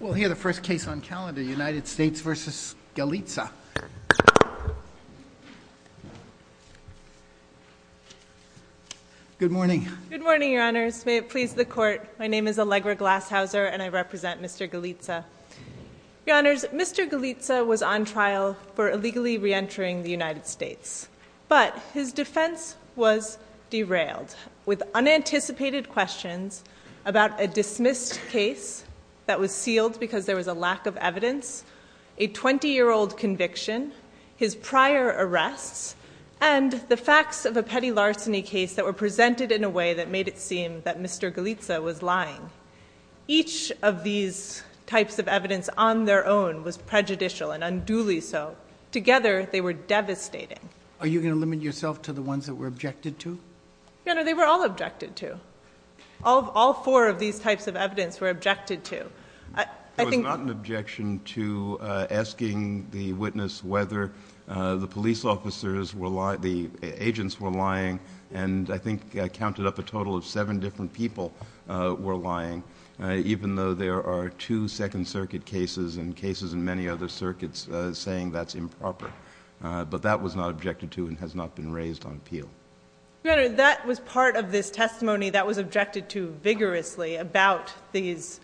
We'll hear the first case on calendar, United States v. Galizia. Good morning. Good morning, your honors. May it please the court, my name is Allegra Glashauser and I represent Mr. Galizia. Your honors, Mr. Galizia was on trial for illegally re-entering the United States, but his defense was derailed with unanticipated questions about a dismissed case that was sealed because there was a lack of evidence, a 20-year-old conviction, his prior arrests, and the facts of a petty larceny case that were presented in a way that made it seem that Mr. Galizia was lying. Each of these types of evidence on their own was prejudicial and unduly so. Together they were devastating. Are you gonna limit yourself to the ones that were objected to? Your honor, they were all objected to. All four of these types of evidence were objected to. It was not an objection to asking the witness whether the police officers were lying, the agents were lying, and I think I counted up a total of seven different people were lying, even though there are two Second Circuit cases and cases in many other circuits saying that's been raised on appeal. Your honor, that was part of this testimony that was objected to vigorously about these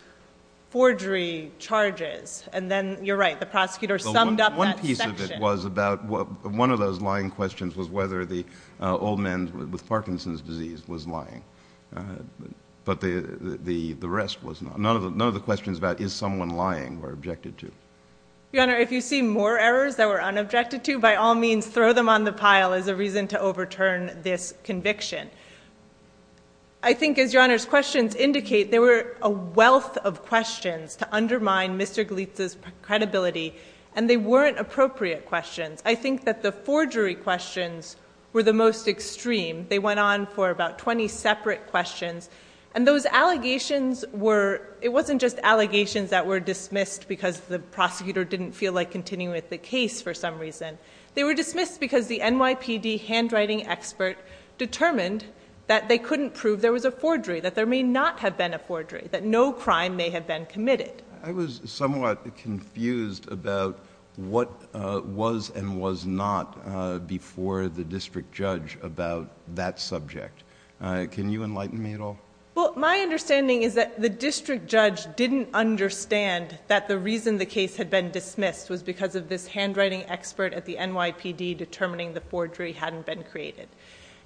forgery charges, and then you're right, the prosecutor summed up that section. One piece of it was about, one of those lying questions was whether the old man with Parkinson's disease was lying, but the rest was not. None of the questions about is someone lying were objected to. Your honor, if you see more errors that were unobjected to, by all means throw them on the pile as a reason to overturn this conviction. I think, as your honor's questions indicate, there were a wealth of questions to undermine Mr. Gleitz's credibility, and they weren't appropriate questions. I think that the forgery questions were the most extreme. They went on for about 20 separate questions, and those allegations were, it wasn't just allegations that were dismissed because the prosecutor didn't feel like continuing with the case for some reason. They were dismissed because the NYPD handwriting expert determined that they couldn't prove there was a forgery, that there may not have been a forgery, that no crime may have been committed. I was somewhat confused about what was and was not before the district judge about that subject. Can you enlighten me at all? Well, my understanding is that the district judge didn't understand that the reason the case had been dismissed was because of this handwriting expert at the NYPD determining the forgery hadn't been created.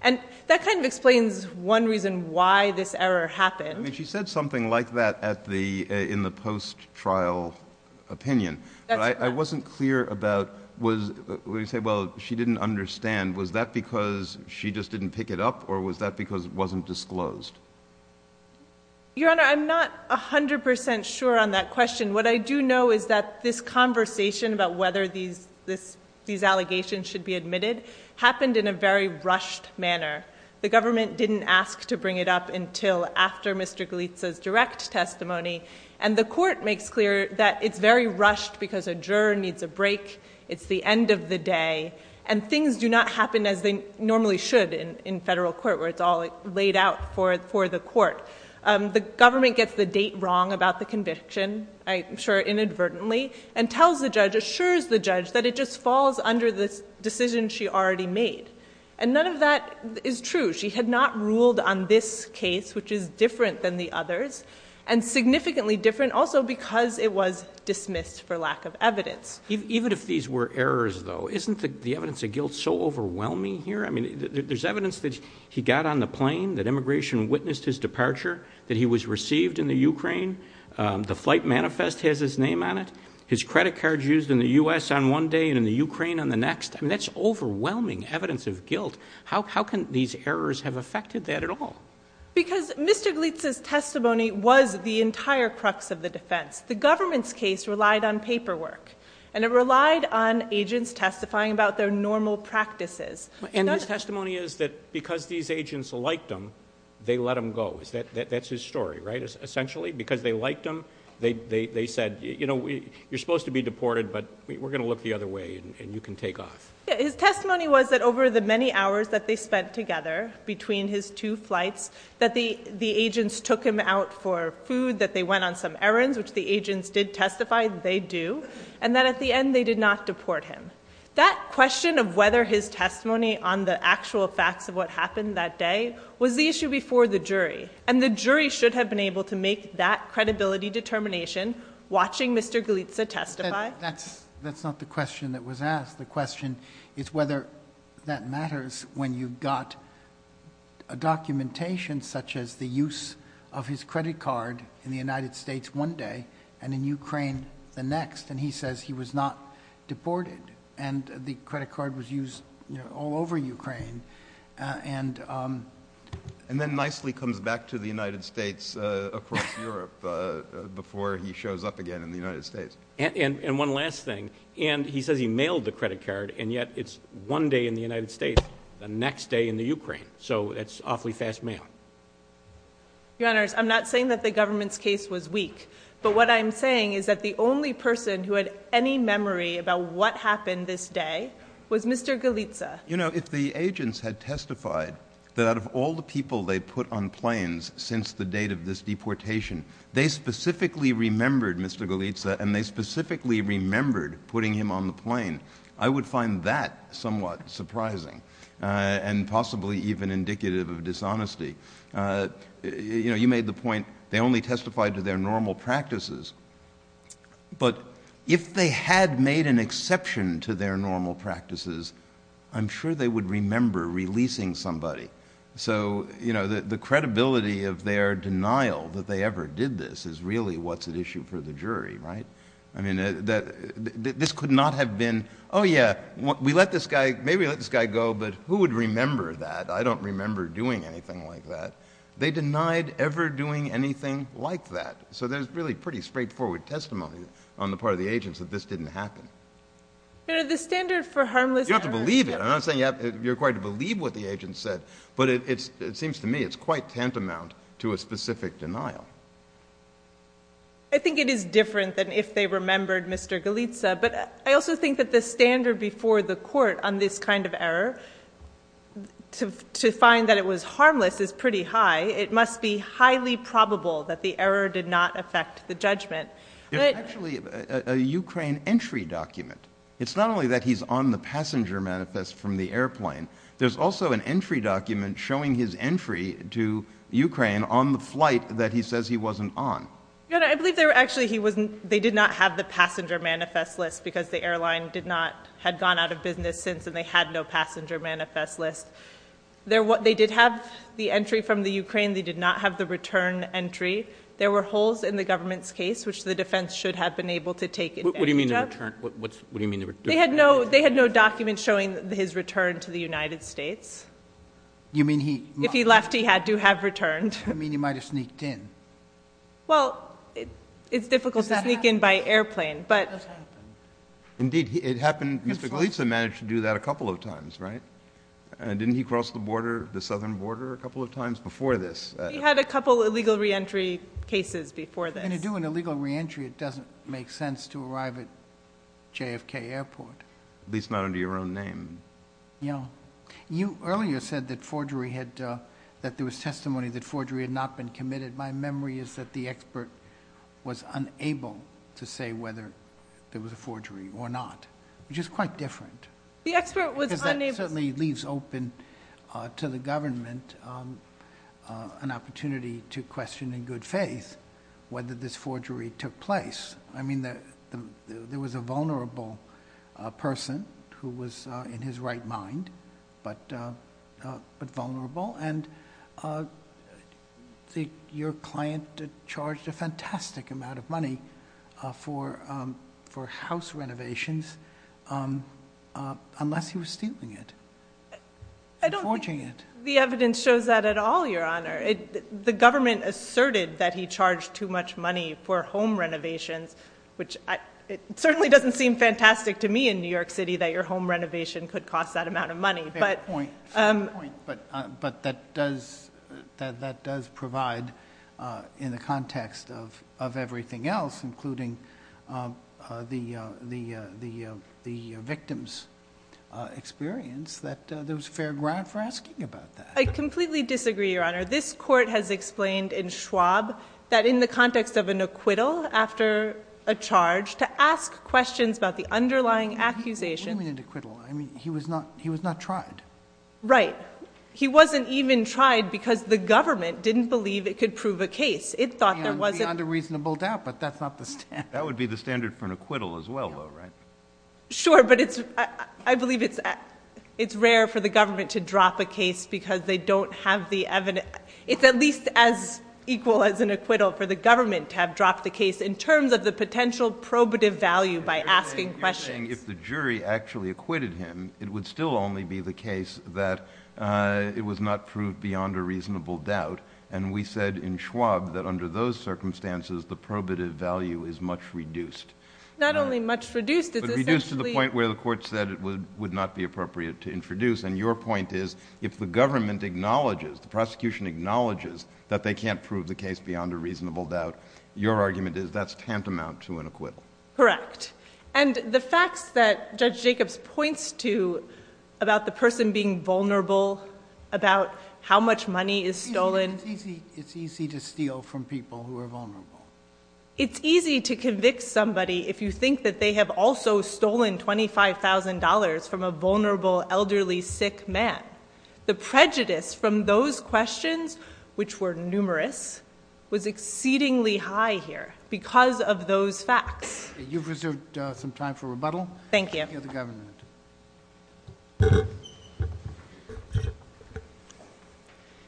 And that kind of explains one reason why this error happened. I mean, she said something like that in the post-trial opinion. I wasn't clear about, when you say, well, she didn't understand, was that because she just didn't pick it up, or was that because it wasn't disclosed? Your honor, I'm not a hundred percent sure on that question. What I do know is that this conversation about whether these allegations should be admitted happened in a very rushed manner. The government didn't ask to bring it up until after Mr. Galitsa's direct testimony. And the court makes clear that it's very rushed because a juror needs a break, it's the end of the day, and things do not happen as they normally should in federal court, where it's all laid out for the court. The government gets the date wrong about the conviction, I'm sure inadvertently, and tells the judge, assures the judge, that it just falls under the decision she already made. And none of that is true. She had not ruled on this case, which is different than the others, and significantly different also because it was dismissed for lack of evidence. Even if these were errors, though, isn't the evidence of guilt so overwhelming here? I mean, there's evidence that he got on the plane, that immigration witnessed his departure, that he was received in the Ukraine, the credit cards used in the U.S. on one day and in the Ukraine on the next. I mean, that's overwhelming evidence of guilt. How can these errors have affected that at all? Because Mr. Galitsa's testimony was the entire crux of the defense. The government's case relied on paperwork, and it relied on agents testifying about their normal practices. And his testimony is that because these agents liked him, they let him go. That's his story, right? Essentially, because they liked him, they said, you know, you're supposed to be deported, but we're going to look the other way, and you can take off. His testimony was that over the many hours that they spent together between his two flights, that the agents took him out for food, that they went on some errands, which the agents did testify, they do, and that at the end, they did not deport him. That question of whether his testimony on the actual facts of what happened that day was the issue before the jury, and the jury should have been watching Mr. Galitsa testify? That's not the question that was asked. The question is whether that matters when you've got a documentation such as the use of his credit card in the United States one day, and in Ukraine the next, and he says he was not deported, and the credit card was used all over Ukraine. And then nicely comes back to the United States across Europe before he shows up again in the United States. And one last thing, and he says he mailed the credit card, and yet it's one day in the United States, the next day in the Ukraine, so that's awfully fast mail. Your Honors, I'm not saying that the government's case was weak, but what I'm saying is that the only person who had any memory about what happened this day was Mr. Galitsa. You know, if the agents had testified that out of all the people they put on planes since the date of this deportation, they specifically remembered Mr. Galitsa, and they specifically remembered putting him on the plane, I would find that somewhat surprising, and possibly even indicative of dishonesty. You know, you made the point they only testified to their normal practices, but if they had made an exception to their normal practices, I'm sure they would remember releasing somebody. So, you know, the credibility of their denial that they ever did this is really what's at issue for the jury, right? I mean, this could not have been, oh yeah, we let this guy, maybe let this guy go, but who would remember that? I don't remember doing anything like that. They denied ever doing anything like that. So there's really pretty straightforward testimony on the part of the agents that this didn't happen. You know, the standard for harmless error— You don't have to believe it. I'm not saying you're required to believe what the agents said, but it seems to me it's quite tantamount to a specific denial. I think it is different than if they remembered Mr. Galitsa, but I also think that the standard before the court on this kind of error, to find that it was not effective, to find that it did not affect the judgment. There's actually a Ukraine entry document. It's not only that he's on the passenger manifest from the airplane, there's also an entry document showing his entry to Ukraine on the flight that he says he wasn't on. I believe they were actually, he wasn't, they did not have the passenger manifest list because the airline did not, had gone out of business since, and they had no passenger manifest list. They did have the entry from the Ukraine. They did not have the return entry. There were holes in the government's case, which the defense should have been able to take advantage of. What do you mean the return, what's, what do you mean the return? They had no, they had no documents showing his return to the United States. You mean he— If he left, he had to have returned. You mean he might have sneaked in? Well, it's difficult to sneak in by airplane, but— Indeed, it happened, Mr. Galitsa managed to do that a couple of times, right? Didn't he cross the border, the southern border a couple of times before this? He had a couple of illegal re-entry cases before this. And to do an illegal re-entry, it doesn't make sense to arrive at JFK airport. At least not under your own name. Yeah. You earlier said that forgery had, that there was testimony that forgery had not been committed. My memory is that the expert was unable to say whether there was a forgery or not, which is quite different. The expert was unable— There was an opportunity to question in good faith whether this forgery took place. I mean, there was a vulnerable person who was in his right mind, but vulnerable. And your client charged a fantastic amount of money for house renovations unless he was stealing it and forging it. The evidence shows that at all, Your Honor. The government asserted that he charged too much money for home renovations, which certainly doesn't seem fantastic to me in New York City, that your home renovation could cost that amount of money. Fair point. But that does provide, in the context of everything else, including the victim's experience, that there was fair ground for asking about that. I completely disagree, Your Honor. This court has explained in Schwab that in the context of an acquittal after a charge, to ask questions about the underlying accusation— What do you mean an acquittal? I mean, he was not tried. Right. He wasn't even tried because the government didn't believe it could prove a case. It thought there wasn't— That would be the standard for an acquittal as well, though, right? Sure. But I believe it's rare for the government to drop a case because they don't have the evidence. It's at least as equal as an acquittal for the government to have dropped the case in terms of the potential probative value by asking questions. If the jury actually acquitted him, it would still only be the case that it was not proved beyond a reasonable doubt. And we said in Schwab that under those circumstances, the probative value is much reduced. Not only much reduced, it's essentially— But reduced to the point where the court said it would not be appropriate to introduce. And your point is if the government acknowledges, the prosecution acknowledges that they can't prove the case beyond a reasonable doubt, your argument is that's tantamount to an acquittal. Correct. And the facts that Judge Jacobs points to about the person being vulnerable, about how much money is stolen— It's easy to steal from people who are vulnerable. It's easy to convict somebody if you think that they have also stolen $25,000 from a vulnerable, elderly, sick man. The prejudice from those questions, which were numerous, was exceedingly high here because of those facts. You've reserved some time for rebuttal. Thank you. Thank you, the government.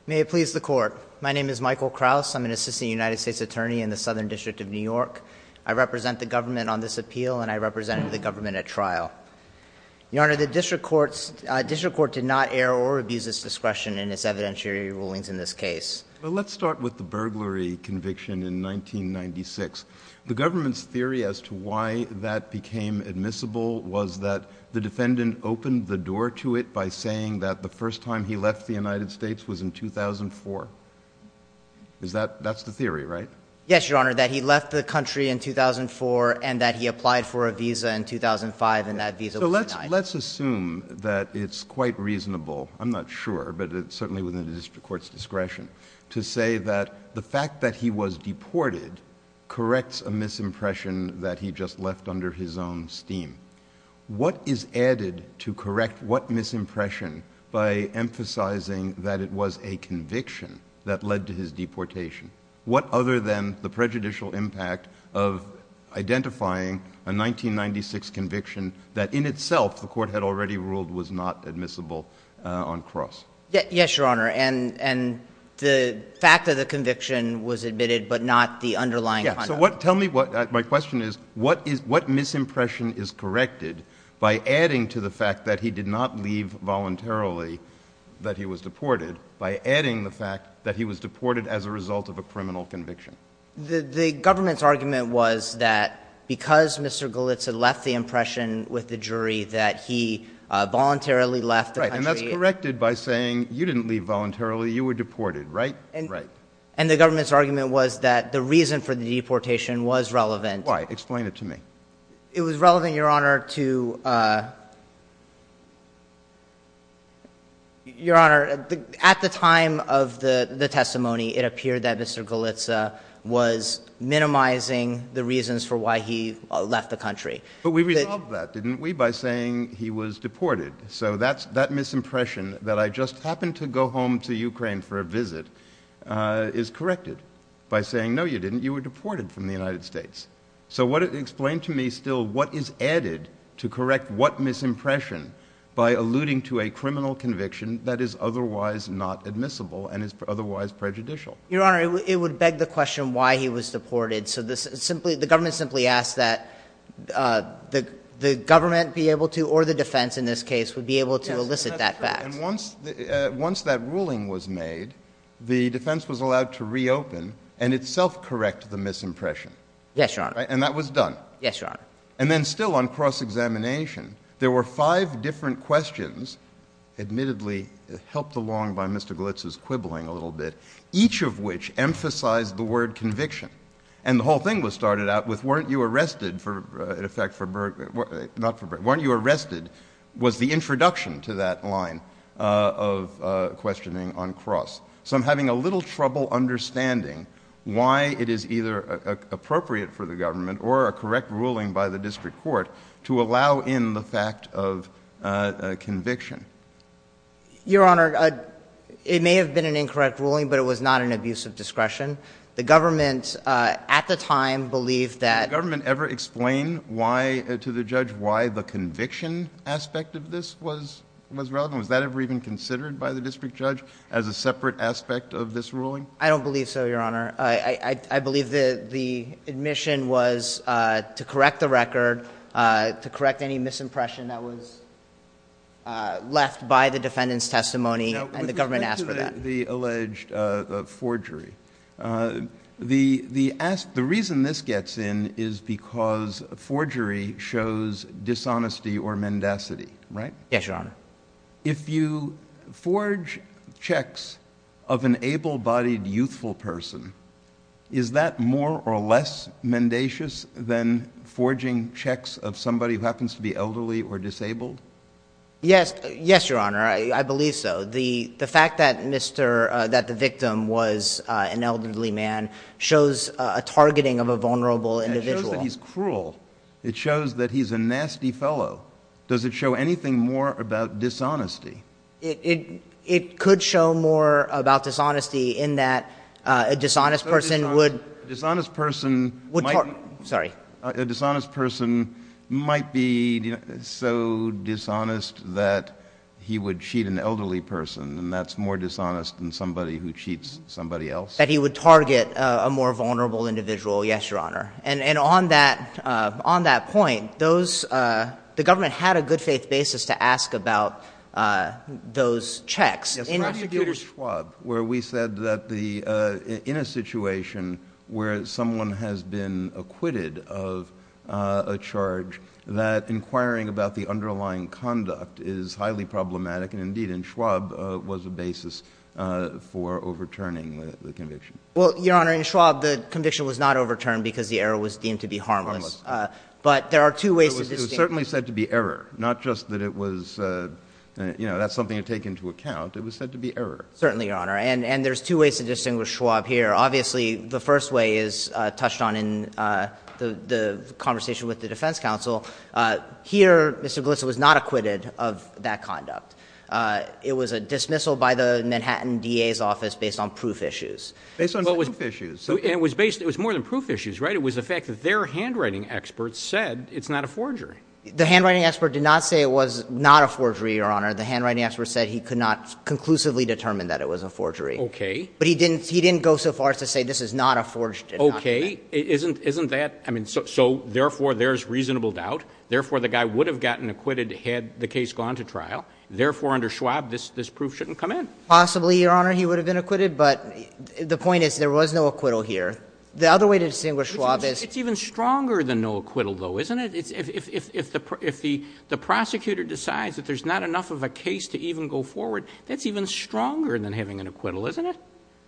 May it please the Court. My name is Michael Kraus. I'm an assistant United States attorney in the Southern District of New York. I represent the government on this appeal, and I represent the government at trial. Your Honor, the district court did not err or abuse its discretion in its evidentiary rulings in this case. Let's start with the burglary conviction in 1996. The government's theory as to why that became admissible was that the defendant opened the door to it by saying that the first time he left the United States was in 2004. That's the theory, right? Yes, Your Honor, that he left the country in 2004, and that he applied for a visa in 2005, and that visa was denied. Let's assume that it's quite reasonable—I'm not sure, but it's certainly within the district court's discretion—to say that the fact that he was deported corrects a misimpression that he just left under his own steam. What is added to correct what misimpression by emphasizing that it was a conviction that led to his deportation? What other than the prejudicial impact of identifying a 1996 conviction that, in itself, the court had already ruled was not admissible on cross? Yes, Your Honor, and the fact that the conviction was admitted but not the underlying— Yeah, so what—tell me what—my question is, what is—what misimpression is corrected by adding to the fact that he did not leave voluntarily, that he was deported, by adding the fact that he was deported as a result of a criminal conviction? The government's argument was that because Mr. Galitz had left the impression with the jury that he voluntarily left the country— You didn't leave voluntarily. You were deported, right? Right. And the government's argument was that the reason for the deportation was relevant— Why? Explain it to me. It was relevant, Your Honor, to—Your Honor, at the time of the testimony, it appeared that Mr. Galitz was minimizing the reasons for why he left the country. But we resolved that, didn't we, by saying he was deported. So that's—that misimpression that I just happened to go home to Ukraine for a visit is corrected by saying, no, you didn't. You were deported from the United States. So what—explain to me still what is added to correct what misimpression by alluding to a criminal conviction that is otherwise not admissible and is otherwise prejudicial. Your Honor, it would beg the question why he was deported. So the government simply asked that the government be able to, or the defense in this case, would be able to elicit that fact. And once that ruling was made, the defense was allowed to reopen and itself correct the misimpression. Yes, Your Honor. And that was done. Yes, Your Honor. And then still on cross-examination, there were five different questions, admittedly helped along by Mr. Galitz's quibbling a little bit, each of which emphasized the word conviction. And the whole thing was started out with, weren't you arrested for—in effect for—not for— weren't you arrested was the introduction to that line of questioning on cross. So I'm having a little trouble understanding why it is either appropriate for the government or a correct ruling by the district court to allow in the fact of conviction. Your Honor, it may have been an incorrect ruling, but it was not an abuse of discretion. The government at the time believed that— Did the government ever explain why, to the judge, why the conviction aspect of this was relevant? Was that ever even considered by the district judge as a separate aspect of this ruling? I don't believe so, Your Honor. I believe that the admission was to correct the record, to correct any misimpression that was left by the defendant's testimony, and the government asked for that. The alleged forgery, the reason this gets in is because forgery shows dishonesty or mendacity, right? Yes, Your Honor. If you forge checks of an able-bodied youthful person, is that more or less mendacious than forging checks of somebody who happens to be elderly or disabled? Yes. Yes, Your Honor. I believe so. The fact that the victim was an elderly man shows a targeting of a vulnerable individual. It shows that he's cruel. It shows that he's a nasty fellow. Does it show anything more about dishonesty? It could show more about dishonesty in that a dishonest person would— A dishonest person— Sorry. A dishonest person might be so dishonest that he would cheat an elderly person, and that's more dishonest than somebody who cheats somebody else. That he would target a more vulnerable individual, yes, Your Honor. And on that point, the government had a good-faith basis to ask about those checks. How do you deal with Schwab, where we said that in a situation where someone has been acquitted of a charge, that inquiring about the underlying conduct is highly problematic, and indeed, in Schwab, was a basis for overturning the conviction? Well, Your Honor, in Schwab, the conviction was not overturned because the error was deemed to be harmless. Harmless. But there are two ways to distinguish— It was certainly said to be error, not just that it was—that's something to take into account. It was said to be error. Certainly, Your Honor. And there's two ways to distinguish Schwab here. Obviously, the first way is touched on in the conversation with the defense counsel. Here, Mr. Galitsa was not acquitted of that conduct. It was a dismissal by the Manhattan DA's office based on proof issues. Based on proof issues. It was more than proof issues, right? It was the fact that their handwriting experts said it's not a forgery. The handwriting expert did not say it was not a forgery, Your Honor. The handwriting expert said he could not conclusively determine that it was a forgery. Okay. But he didn't go so far as to say this is not a forged indictment. Okay. Isn't that — I mean, so therefore, there's reasonable doubt. Therefore, the guy would have gotten acquitted had the case gone to trial. Therefore, under Schwab, this proof shouldn't come in. Possibly, Your Honor, he would have been acquitted. But the point is there was no acquittal here. The other way to distinguish Schwab is— It's even stronger than no acquittal, though, isn't it? If the prosecutor decides that there's not enough of a case to even go forward, that's even stronger than having an acquittal, isn't it?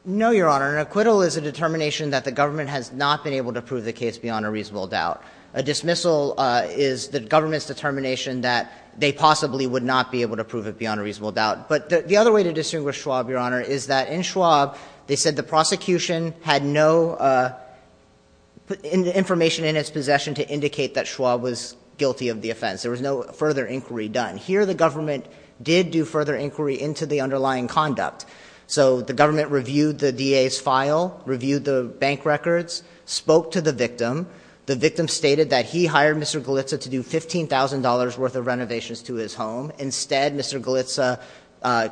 No, Your Honor. An acquittal is a determination that the government has not been able to prove the case beyond a reasonable doubt. A dismissal is the government's determination that they possibly would not be able to prove it beyond a reasonable doubt. But the other way to distinguish Schwab, Your Honor, is that in Schwab, they said the prosecution had no information in its possession to indicate that Schwab was guilty of the offense. There was no further inquiry done. Here, the government did do further inquiry into the underlying conduct. So the government reviewed the DA's file, reviewed the bank records, spoke to the victim. The victim stated that he hired Mr. Galitza to do $15,000 worth of renovations to his home. Instead, Mr. Galitza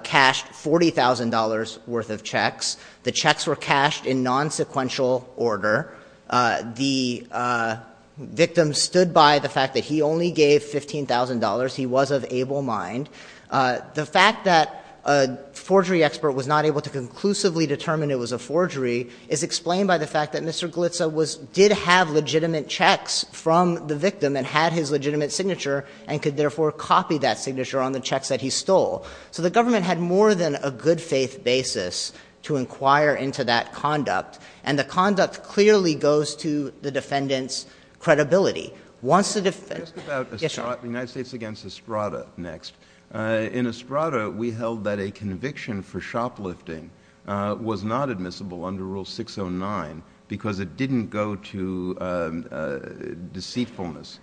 cashed $40,000 worth of checks. The checks were cashed in nonsequential order. The victim stood by the fact that he only gave $15,000. He was of able mind. The fact that a forgery expert was not able to conclusively determine it was a forgery is explained by the fact that Mr. Galitza did have legitimate checks from the victim and had his legitimate signature and could therefore copy that signature on the checks that he stole. So the government had more than a good-faith basis to inquire into that conduct. And the conduct clearly goes to the defendant's credibility. Once the defendant— Just about— Yes, Your Honor. The United States against Estrada next. In Estrada, we held that a conviction for shoplifting was not admissible under Rule 609 because it didn't go to deceitfulness,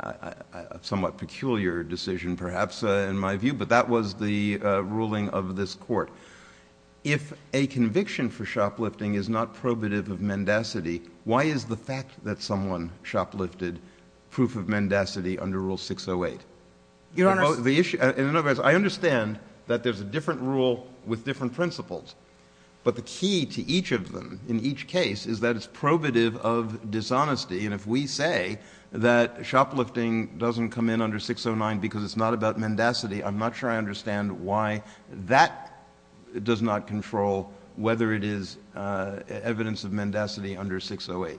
a somewhat peculiar decision, perhaps, in my view. But that was the ruling of this Court. If a conviction for shoplifting is not probative of mendacity, why is the fact that someone shoplifted proof of mendacity under Rule 608? Your Honor— In other words, I understand that there's a different rule with different principles, but the key to each of them in each case is that it's probative of dishonesty. And if we say that shoplifting doesn't come in under 609 because it's not about mendacity, I'm not sure I understand why that does not control whether it is evidence of mendacity under 608.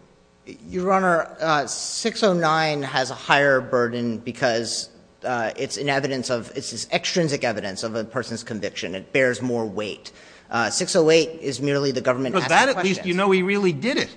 Your Honor, 609 has a higher burden because it's an evidence of — it's extrinsic evidence of a person's conviction. It bears more weight. 608 is merely the government asking questions. Because that, at least, you know he really did it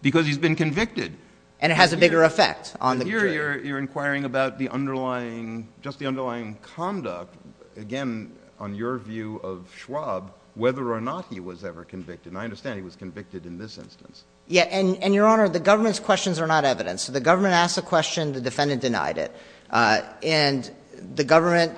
because he's been convicted. And it has a bigger effect on the jury. You're inquiring about the underlying — just the underlying conduct. Again, on your view of Schwab, whether or not he was ever convicted. And I understand he was convicted in this instance. Yeah. And, Your Honor, the government's questions are not evidence. So the government asked a question. The defendant denied it. And the government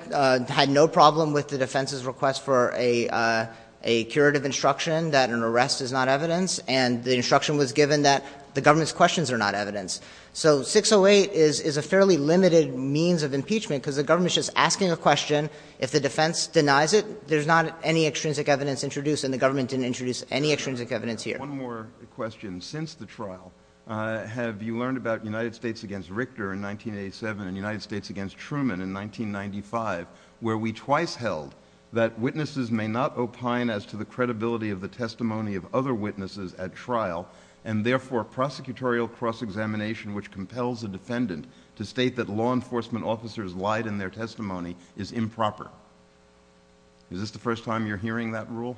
had no problem with the defense's request for a curative instruction that an arrest is not evidence. And the instruction was given that the government's questions are not evidence. So 608 is a fairly limited means of impeachment because the government is just asking a question. If the defense denies it, there's not any extrinsic evidence introduced. And the government didn't introduce any extrinsic evidence here. One more question. Since the trial, have you learned about United States v. Richter in 1987 and United States v. Truman in 1995, where we twice held that witnesses may not opine as to the credibility of the testimony of other witnesses at trial and, therefore, prosecutorial cross-examination which compels a defendant to state that law enforcement officers lied in their testimony is improper? Is this the first time you're hearing that rule?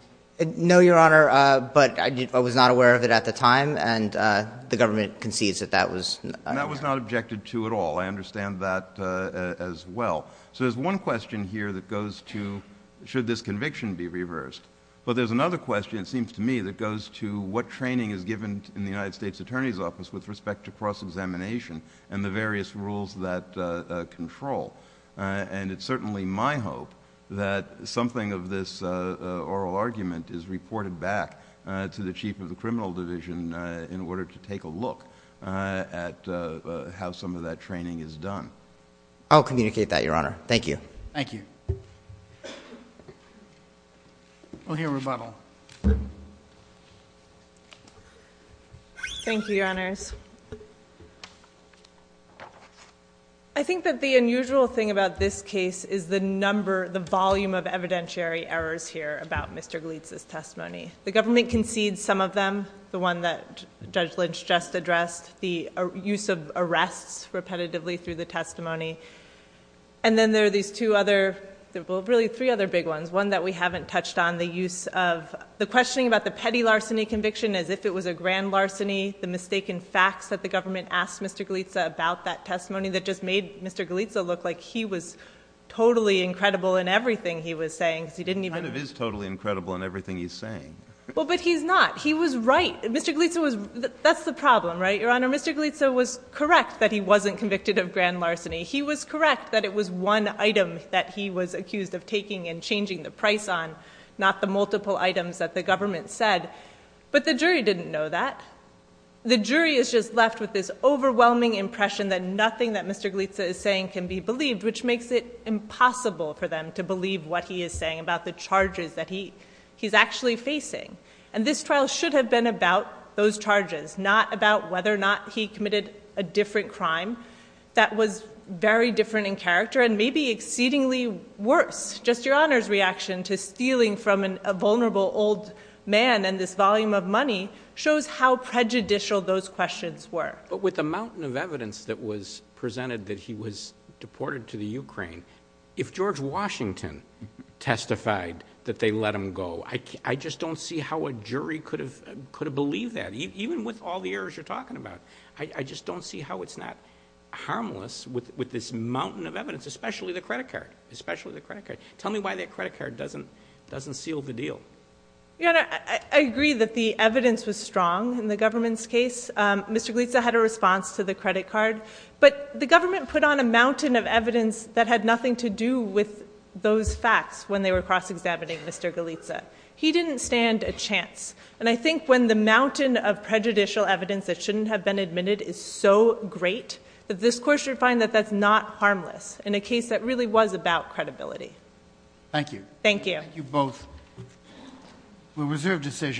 No, Your Honor. But I was not aware of it at the time. And the government concedes that that was— That was not objected to at all. I understand that as well. So there's one question here that goes to, should this conviction be reversed? But there's another question, it seems to me, that goes to what training is given in the United States Attorney's Office with respect to cross-examination and the various rules that control. And it's certainly my hope that something of this oral argument is reported back to the chief of the criminal division in order to take a look at how some of that training is done. I'll communicate that, Your Honor. Thank you. Thank you. We'll hear rebuttal. Thank you, Your Honors. I think that the unusual thing about this case is the number, the volume of evidentiary errors here about Mr. Glitz's testimony. The government concedes some of them, the one that Judge Lynch just addressed, the use of arrests repetitively through the testimony. And then there are these two other—well, really three other big ones, one that we haven't touched on, the use of—the questioning about the petty larceny conviction as if it was a grand larceny, the mistaken facts that the government asked Mr. Glitz about that testimony that just made Mr. Glitz look like he was totally incredible in everything he was saying, because he didn't even— He kind of is totally incredible in everything he's saying. Well, but he's not. He was right. Mr. Glitz was—that's the problem, right, Your Honor? Mr. Glitz was correct that he wasn't convicted of grand larceny. He was correct that it was one item that he was accused of taking and changing the price on, not the multiple items that the government said. But the jury didn't know that. The jury is just left with this overwhelming impression that nothing that Mr. Glitz is saying can be believed, which makes it impossible for them to believe what he is saying about the charges that he's actually facing. And this trial should have been about those charges, not about whether or not he committed a different crime that was very different in character and maybe exceedingly worse. Just Your Honor's reaction to stealing from a vulnerable old man and this volume of money shows how prejudicial those questions were. But with the mountain of evidence that was presented that he was deported to the Ukraine, if George Washington testified that they let him go, I just don't see how a jury could have believed that, even with all the errors you're talking about. I just don't see how it's not harmless with this mountain of evidence, especially the credit card, especially the credit card. Tell me why that credit card doesn't seal the deal. Your Honor, I agree that the evidence was strong in the government's case. Mr. Glitz had a response to the credit card. But the government put on a mountain of evidence that had nothing to do with those facts when they were cross-examining Mr. Glitz. He didn't stand a chance. And I think when the mountain of prejudicial evidence that shouldn't have been admitted is so great, that this Court should find that that's not harmless in a case that really was about credibility. Thank you. Thank you. Thank you both. We'll reserve decision.